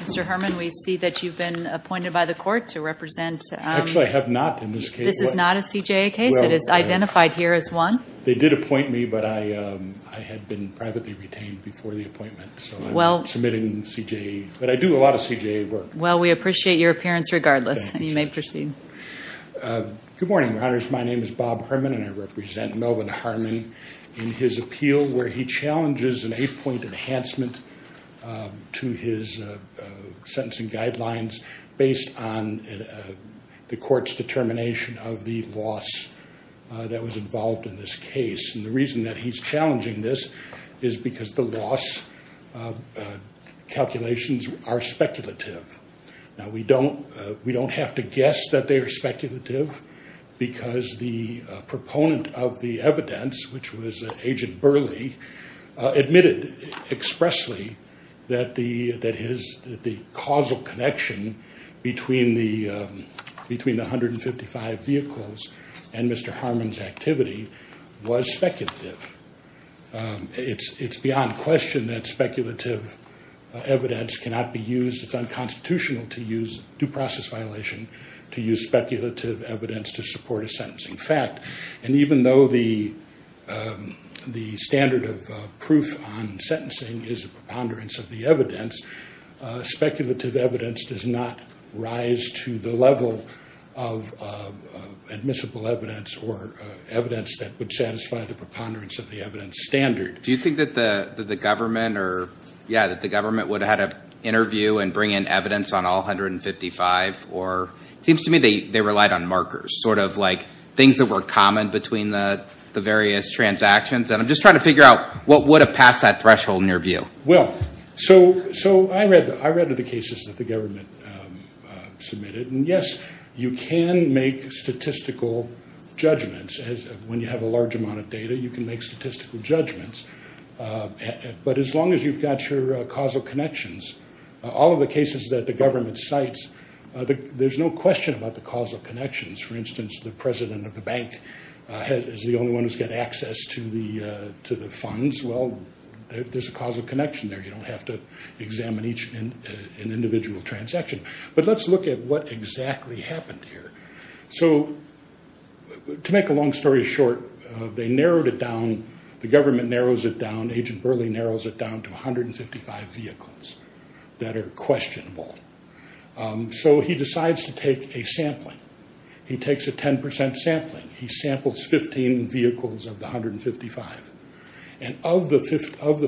Mr. Harmon, we see that you've been appointed by the court to represent Actually, I have not in this case. This is not a CJA case. It is identified here as one. They did appoint me, but I had been privately retained before the appointment, so I'm submitting CJA. But I do a lot of CJA work. Well, we appreciate your appearance regardless. You may proceed. Good morning, Your Honors. My name is Bob Harmon and I represent Melvin Harmon in his appeal where he challenges an eight-point enhancement to his sentencing guidelines based on the court's determination of the loss that was involved in this case, and the reason that he's challenging this is because the loss calculations are speculative. Now, we don't have to guess that they are speculative because the proponent of the evidence, which was Agent Burley, admitted expressly that the causal connection between the 155 vehicles and Mr. Harmon's activity was speculative. It's beyond question that speculative evidence cannot be used. It's unconstitutional to use due process violation to use speculative evidence to support a sentencing fact. And even though the standard of proof on sentencing is a preponderance of the evidence, speculative evidence does not rise to the level of admissible evidence or evidence that would satisfy the preponderance of the evidence standard. Do you think that the government would have had an interview and bring in evidence on all 155? It seems to me they relied on markers, sort of like things that were common between the various transactions, and I'm just trying to figure out what would have passed that threshold in your view. Well, so I read the cases that the government submitted, and yes, you can make statistical judgments. When you have a large amount of data, you can make statistical judgments. But as long as you've got your causal connections, all of the cases that the government cites, there's no question about the causal connections. For instance, the president of the bank is the only one who's got access to the funds. Well, there's a causal connection there. You don't have to examine each individual transaction. But let's look at what exactly happened here. So to make a long story short, they narrowed it down, the government narrows it down, Agent 155 vehicles that are questionable. So he decides to take a sampling. He takes a 10% sampling. He samples 15 vehicles of the 155. And of the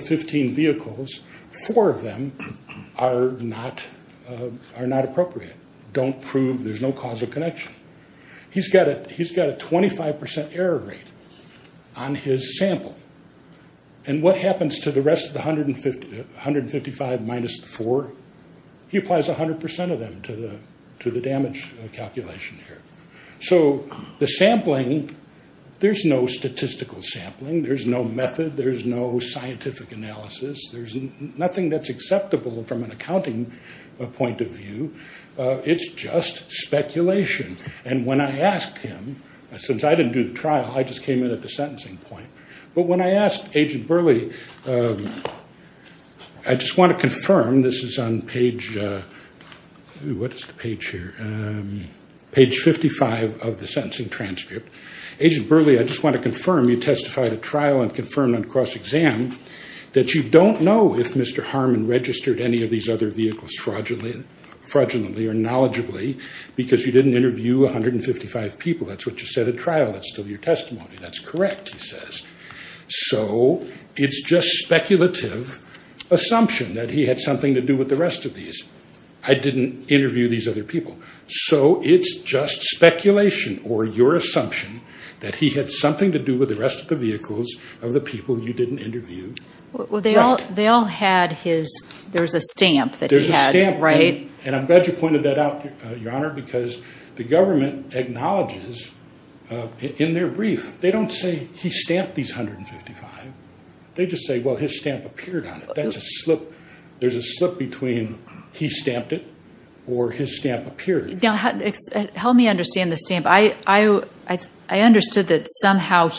15 vehicles, four of them are not appropriate, don't prove there's no causal connection. He's got a 25% error rate on his sample. And what happens to the rest of the 155 minus the four? He applies 100% of them to the damage calculation here. So the sampling, there's no statistical sampling. There's no method. There's no scientific analysis. There's nothing that's acceptable from an accounting point of view. It's just speculation. And when I asked him, since I didn't do the trial, I just came in at the sentencing point. But when I asked Agent Burley, I just want to confirm, this is on page, what is the page here, page 55 of the sentencing transcript, Agent Burley, I just want to confirm you testified at trial and confirmed on cross-exam that you don't know if Mr. Harmon registered any of these other vehicles fraudulently or knowledgeably because you didn't interview 155 people. That's what you said at trial. That's still your testimony. That's correct, he says. So it's just speculative assumption that he had something to do with the rest of these. I didn't interview these other people. So it's just speculation or your assumption that he had something to do with the rest of the vehicles of the people you didn't interview. They all had his, there's a stamp that he had, right? And I'm glad you pointed that out, Your Honor, because the government acknowledges in their stamp these 155, they just say, well, his stamp appeared on it. There's a slip between he stamped it or his stamp appeared. Help me understand the stamp. I understood that somehow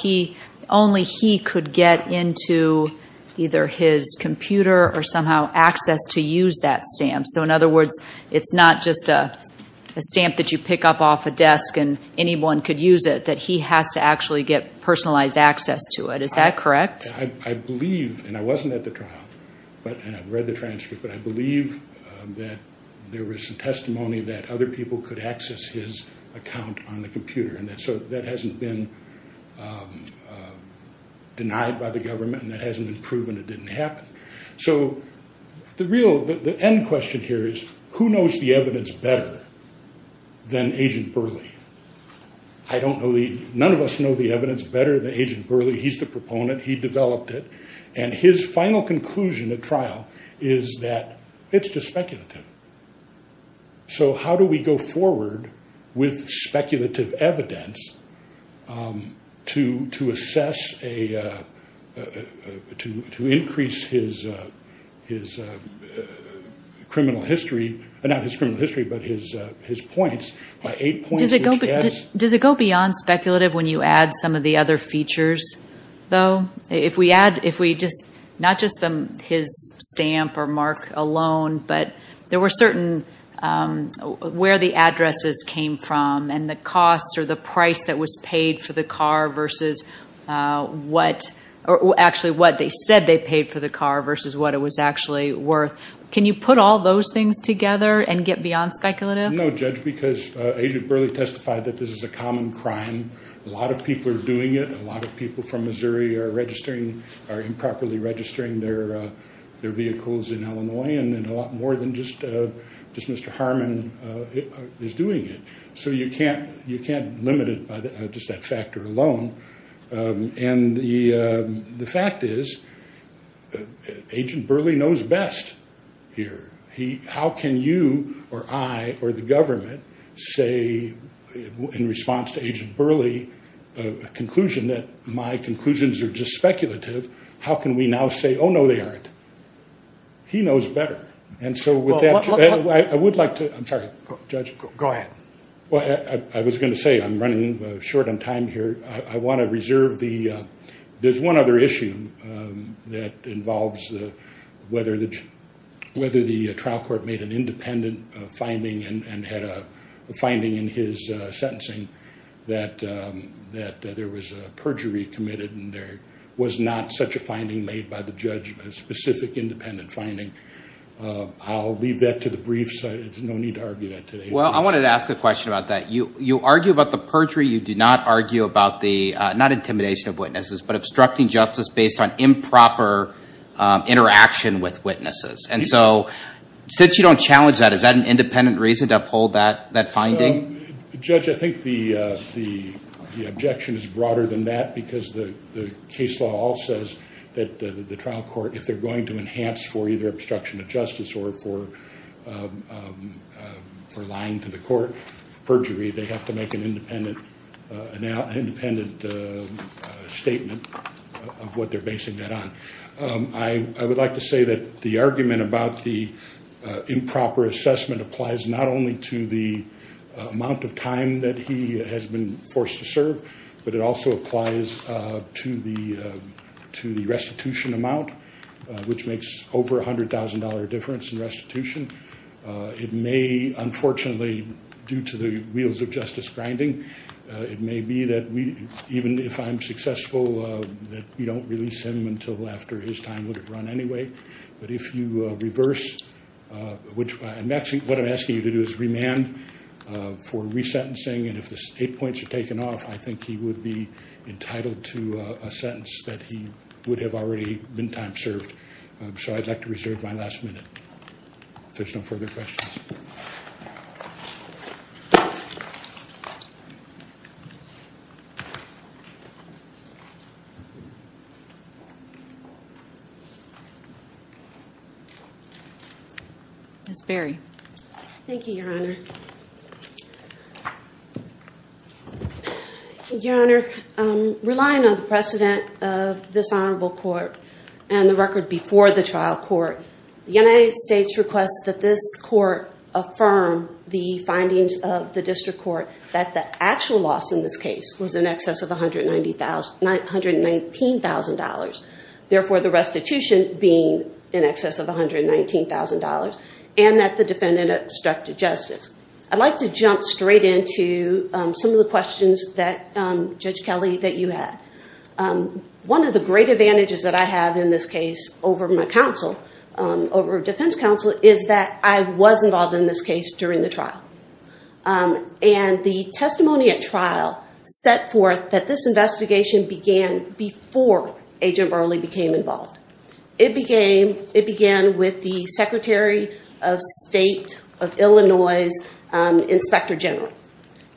only he could get into either his computer or somehow access to use that stamp. So in other words, it's not just a stamp that you pick up off a desk and anyone could use it, that he has to actually get personalized access to it. Is that correct? I believe, and I wasn't at the trial, and I've read the transcript, but I believe that there was some testimony that other people could access his account on the computer. And so that hasn't been denied by the government and that hasn't been proven, it didn't happen. So the real, the end question here is who knows the evidence better than Agent Burleigh? I don't know the, none of us know the evidence better than Agent Burleigh. He's the proponent. He developed it. And his final conclusion at trial is that it's just speculative. So how do we go forward with speculative evidence to assess a, to increase his criminal history, not his criminal history, but his points, by eight points, which adds. Does it go beyond speculative when you add some of the other features, though? If we add, if we just, not just his stamp or mark alone, but there were certain, where the addresses came from and the cost or the price that was paid for the car versus what, actually what they said they paid for the car versus what it was actually worth. Can you put all those things together and get beyond speculative? No, Judge, because Agent Burleigh testified that this is a common crime. A lot of people are doing it. A lot of people from Missouri are registering, are improperly registering their vehicles in Illinois and a lot more than just Mr. Harmon is doing it. So you can't limit it by just that factor alone. And the fact is Agent Burleigh knows best here. How can you or I or the government say in response to Agent Burleigh, a conclusion that my conclusions are just speculative, how can we now say, oh, no, they aren't? He knows better. And so with that, I would like to, I'm sorry, Judge. Go ahead. Well, I was going to say, I'm running short on time here. I want to reserve the, there's one other issue that involves whether the trial court made an independent finding and had a finding in his sentencing that there was a perjury committed and there was not such a finding made by the judge, a specific independent finding. I'll leave that to the briefs. There's no need to argue that today. Well, I wanted to ask a question about that. You argue about the perjury. You do not argue about the, not intimidation of witnesses, but obstructing justice based on improper interaction with witnesses. And so since you don't challenge that, is that an independent reason to uphold that finding? Judge, I think the objection is broader than that because the case law all says that the trial court, if they're going to enhance for either obstruction of justice or for lying to the court, perjury, they have to make an independent statement of what they're basing that on. I would like to say that the argument about the improper assessment applies not only to the amount of time that he has been forced to serve, but it also applies to the restitution amount, which makes over $100,000 difference in restitution. It may, unfortunately, due to the wheels of justice grinding, it may be that even if I'm successful, that we don't release him until after his time would have run anyway. But if you reverse, what I'm asking you to do is remand for resentencing and if the state points are taken off, I think he would be entitled to a sentence that he would have already been time served. I'd like to reserve my last minute. There's no further questions. Ms. Berry. Thank you, Your Honor. Your Honor, relying on the precedent of this honorable court and the record before the trial court, the United States requests that this court affirm the findings of the district court that the actual loss in this case was in excess of $119,000, therefore the restitution being in excess of $119,000, and that the defendant obstructed justice. I'd like to jump straight into some of the questions that, Judge Kelly, that you had. One of the great advantages that I have in this case over my counsel, over defense counsel, is that I was involved in this case during the trial. And the testimony at trial set forth that this investigation began before Agent Burley became involved. It began with the Secretary of State of Illinois' Inspector General.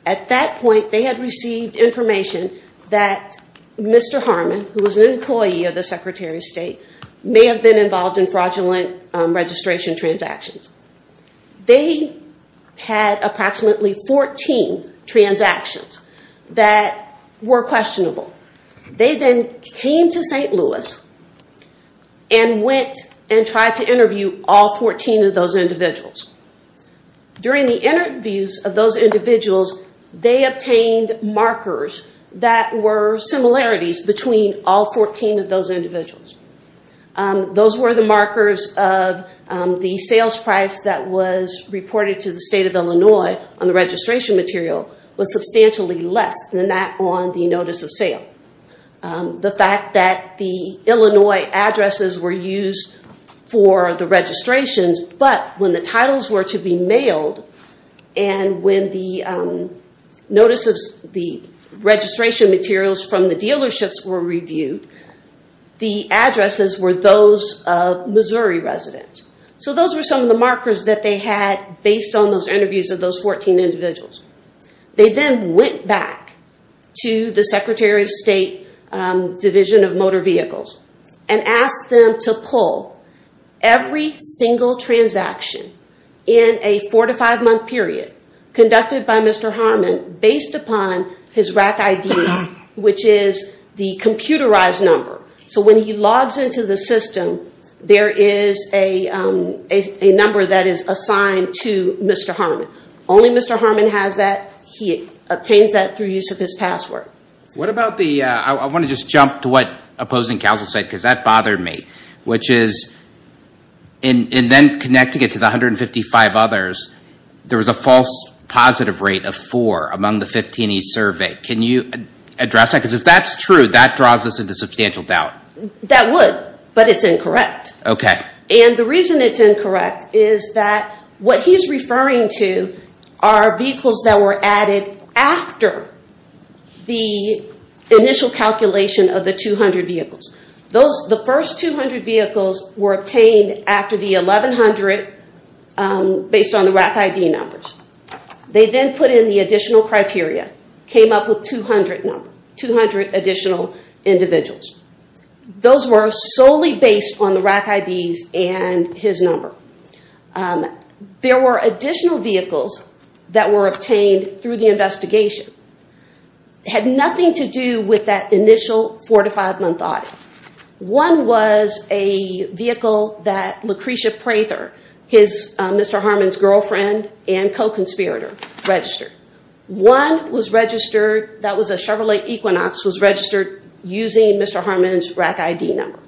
At that point, they had received information that Mr. Harmon, who was an employee of the Secretary of State, may have been involved in fraudulent registration transactions. They had approximately 14 transactions that were questionable. They then came to St. Louis and went and tried to interview all 14 of those individuals. During the interviews of those individuals, they obtained markers that were similarities between all 14 of those individuals. Those were the markers of the sales price that was reported to the State of Illinois on the registration material was substantially less than that on the notice of sale. The fact that the Illinois addresses were used for the registrations, but when the titles were to be mailed and when the notices, the registration materials from the dealerships were reviewed, the addresses were those of Missouri residents. So those were some of the markers that they had based on those interviews of those 14 individuals. They then went back to the Secretary of State Division of Motor Vehicles and asked them to pull every single transaction in a four to five month period conducted by Mr. Harmon based upon his RAC ID, which is the computerized number. So when he logs into the system, there is a number that is assigned to Mr. Harmon. Only Mr. Harmon has that. He obtains that through use of his password. What about the, I want to just jump to what opposing counsel said because that bothered me, which is in then connecting it to the 155 others, there was a false positive rate of four among the 15 he surveyed. Can you address that? Because if that's true, that draws us into substantial doubt. That would, but it's incorrect. Okay. And the reason it's incorrect is that what he's referring to are vehicles that were added after the initial calculation of the 200 vehicles. Those, the first 200 vehicles were obtained after the 1100 based on the RAC ID numbers. They then put in the additional criteria, came up with 200 number, 200 additional individuals. Those were solely based on the RAC IDs and his number. There were additional vehicles that were obtained through the investigation. Had nothing to do with that initial four to five month audit. One was a vehicle that Lucretia Prather, his Mr. Harmon's girlfriend and co-conspirator registered. One was registered, that was a Chevrolet Equinox, was registered using Mr. Harmon's RAC ID number.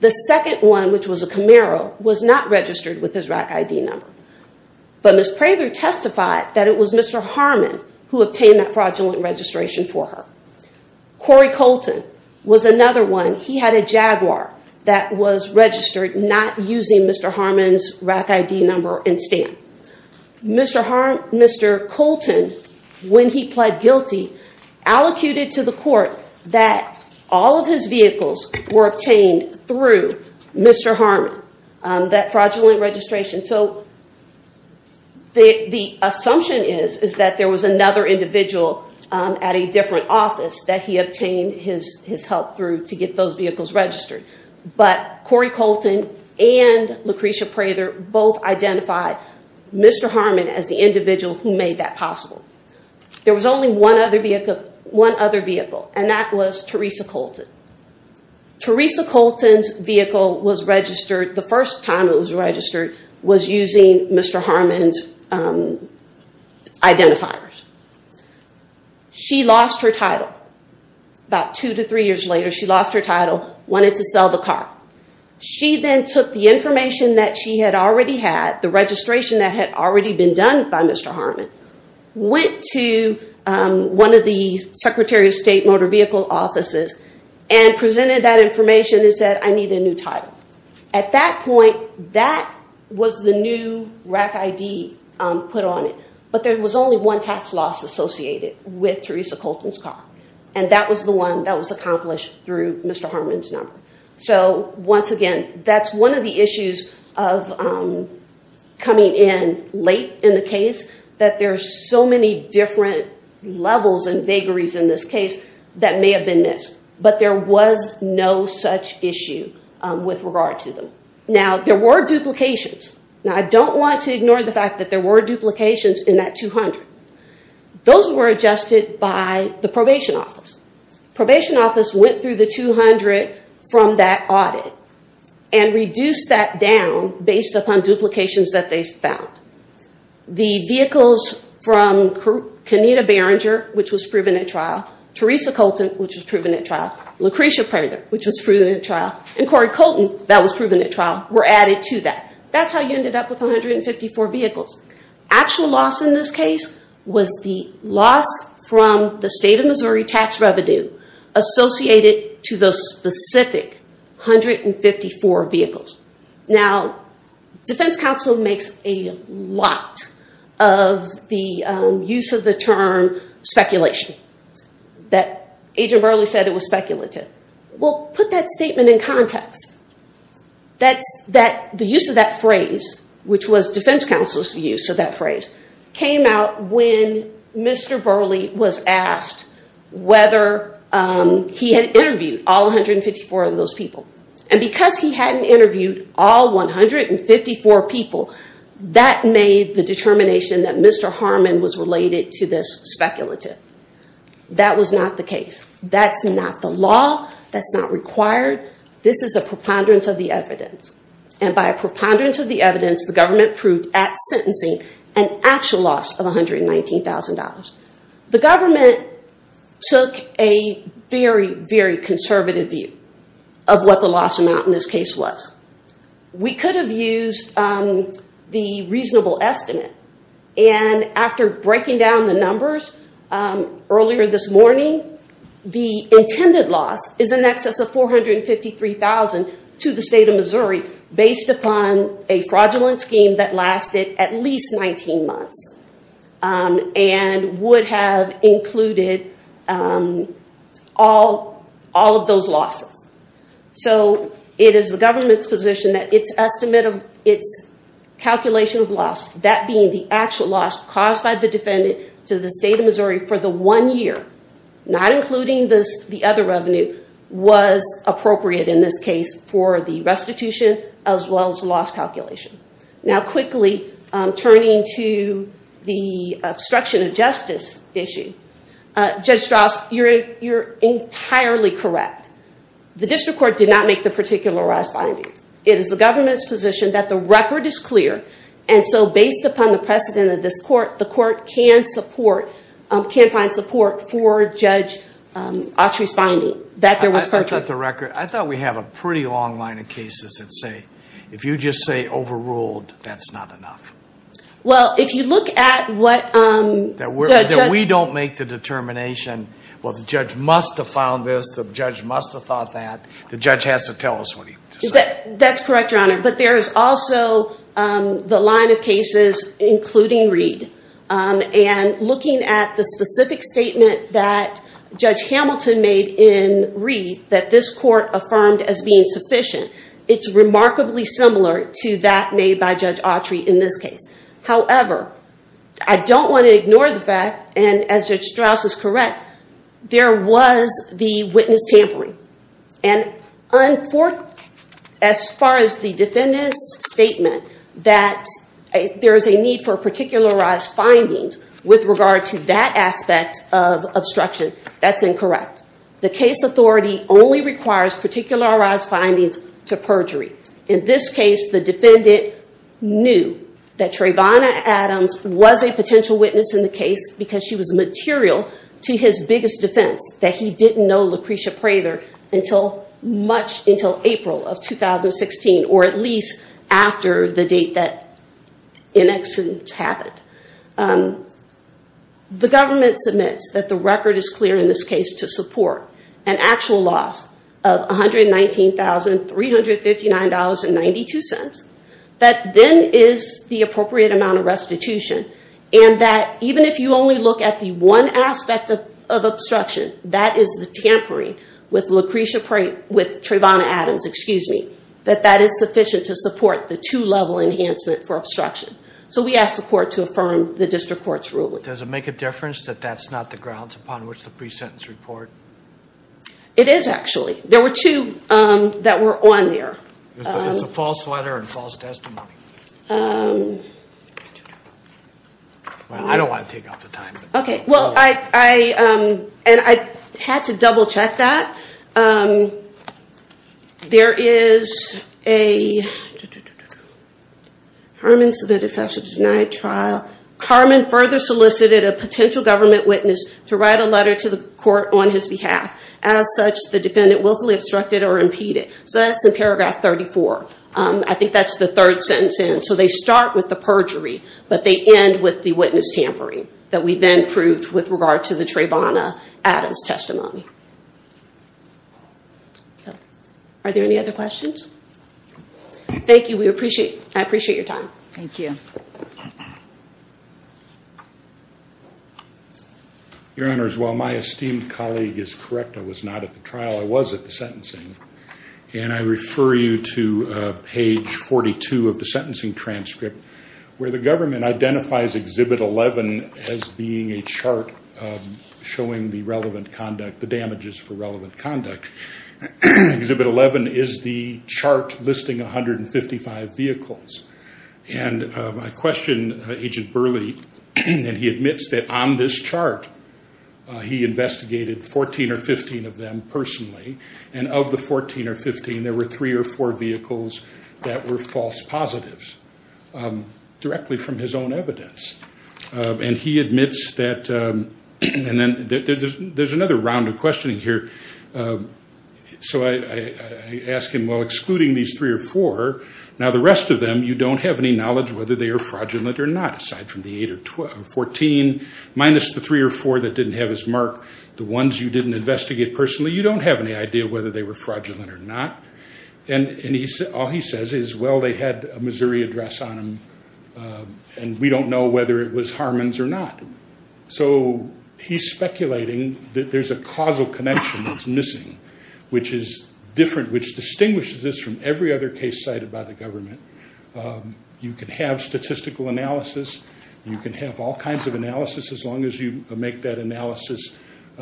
The second one, which was a Camaro, was not registered with his RAC ID number. But Ms. Prather testified that it was Mr. Harmon who obtained that fraudulent registration for her. Corey Colton was another one. He had a Jaguar that was registered not using Mr. Harmon's RAC ID number and stamp. Mr. Harmon, Mr. Colton, when he pled guilty, allocated to the court that all of his vehicles were obtained through Mr. Harmon, that fraudulent registration. So, the assumption is, is that there was another individual at a different office that he obtained his help through to get those vehicles registered. But Corey Colton and Lucretia Prather both identified Mr. Harmon as the individual who made that possible. There was only one other vehicle and that was Teresa Colton. Teresa Colton's vehicle was registered, the first time it was registered, was using Mr. Harmon's identifiers. She lost her title. About two to three years later, she lost her title, wanted to sell the car. She then took the information that she had already had, the registration that had already been done by Mr. Harmon, went to one of the Secretary of State Motor Vehicle Offices and presented that information and said, I need a new title. At that point, that was the new RAC ID put on it. But there was only one tax loss associated with Teresa Colton's car. And that was the one that was accomplished through Mr. Harmon's number. So once again, that's one of the issues of coming in late in the case, that there's so many different levels and vagaries in this case that may have been missed. But there was no such issue with regard to them. Now, there were duplications. Now, I don't want to ignore the fact that there were duplications in that 200. Those were adjusted by the Probation Office. Probation Office went through the 200 from that audit and reduced that down based upon duplications that they found. The vehicles from Kenita Berenger, which was proven at trial, Teresa Colton, which was proven at trial, Lucretia Prather, which was proven at trial, and Cory Colton, that was proven at trial, were added to that. That's how you ended up with 154 vehicles. Actual loss in this case was the loss from the state of Missouri tax revenue associated to those specific 154 vehicles. Now, Defense Counsel makes a lot of the use of the term speculation. That Agent Burley said it was speculative. Well, put that statement in context. The use of that phrase, which was Defense Counsel's use of that phrase, came out when Mr. Burley was asked whether he had interviewed all 154 of those people. Because he hadn't interviewed all 154 people, that made the determination that Mr. Harmon was related to this speculative. That was not the case. That's not the law. That's not required. This is a preponderance of the evidence. By a preponderance of the evidence, the government proved at sentencing an actual loss of $119,000. The government took a very, very conservative view of what the loss amount in this case was. We could have used the reasonable estimate. After breaking down the numbers earlier this morning, the intended loss is in excess of $453,000 to the state of Missouri, based upon a fraudulent scheme that lasted at least 19 months. It would have included all of those losses. It is the government's position that its estimate of its calculation of loss, that being the actual loss caused by the defendant to the state of Missouri for the one year, not including the other revenue, was appropriate in this case for the restitution as well as loss calculation. Now quickly, turning to the obstruction of justice issue, Judge Strauss, you're entirely correct. The district court did not make the particularized findings. It is the government's position that the record is clear. And so based upon the precedent of this court, the court can find support for Judge Autry's finding. I thought we have a pretty long line of cases that say if you just say overruled, that's not enough. Well, if you look at what... We don't make the determination, well, the judge must have found this, the judge must have thought that, the judge has to tell us what he said. That's correct, Your Honor, but there is also the line of cases, including Reed. And looking at the specific statement that Judge Hamilton made in Reed, that this court affirmed as being sufficient. It's remarkably similar to that made by Judge Autry in this case. However, I don't want to ignore the fact, and as Judge Strauss is correct, there was the witness tampering and as far as the defendant's statement that there is a need for a particularized findings with regard to that aspect of particularized findings to perjury. In this case, the defendant knew that Trayvon Adams was a potential witness in the case because she was material to his biggest defense, that he didn't know Lucretia Prather until much until April of 2016, or at least after the date that in accidents happened. The government submits that the record is clear in this case to support an actual loss of $119,359.92. That then is the appropriate amount of restitution and that even if you only look at the one aspect of obstruction, that is the tampering with Lucretia Prather, with Trayvon Adams, excuse me, that that is sufficient to support the two-level enhancement for obstruction. So we ask the court to affirm the district court's ruling. Does it make a difference that that's not the grounds upon which the pre-sentence report? It is actually. There were two that were on there. It's a false letter and false testimony. I don't want to take up the time. Okay. Well, I and I had to double-check that. There is a Harman submitted fessel to denied trial. Harman further solicited a potential government witness to write a letter to the court on his behalf. As such, the defendant willfully obstructed or impeded. So that's in paragraph 34. I think that's the third sentence in. So they start with the perjury, but they end with the witness tampering that we then proved with regard to the Trayvon Adams testimony. Are there any other questions? Thank you. We appreciate, I appreciate your time. Thank you. Your Honor, as well, my esteemed colleague is correct. I was not at the trial. I was at the sentencing and I refer you to page 42 of the sentencing transcript where the government identifies exhibit 11 as being a chart showing the relevant conduct, the damages for relevant conduct. Exhibit 11 is the chart listing 155 vehicles. And I questioned Agent Burley and he admits that on this chart he investigated 14 or 15 of them personally. And of the 14 or 15, there were three or four vehicles that were false positives directly from his own evidence. And he admits that and then there's another round of questioning here. So I ask him, well excluding these three or four, now the rest of them you don't have any knowledge whether they are fraudulent or not, aside from the eight or 14, minus the three or four that didn't have his mark, the ones you didn't investigate personally, you don't have any idea whether they were fraudulent or not. And all he says is, well, they had a Missouri address on them and we don't know whether it was Harmon's or not. So he's speculating that there's a causal connection that's missing. Which is different, which distinguishes this from every other case cited by the government. You can have statistical analysis. You can have all kinds of analysis as long as you make that analysis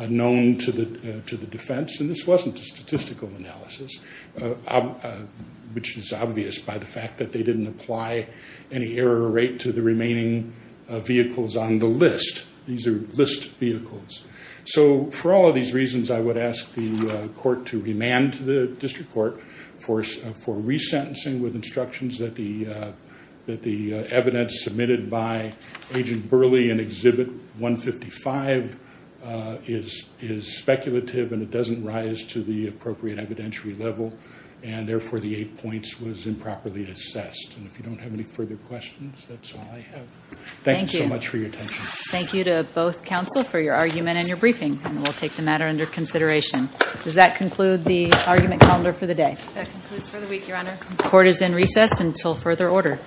known to the defense. And this wasn't a statistical analysis. Which is obvious by the fact that they didn't apply any error rate to the remaining vehicles on the list. These are list vehicles. So for all of these reasons, I would ask the court to remand to the district court for resentencing with instructions that the evidence submitted by Agent Burley and Exhibit 155 is speculative and it doesn't rise to the appropriate evidentiary level. And therefore the eight points was improperly assessed. And if you don't have any further questions, that's all I have. Thank you so much for your time. Thank you to both counsel for your argument and your briefing. And we'll take the matter under consideration. Does that conclude the argument calendar for the day? Court is in recess until further order.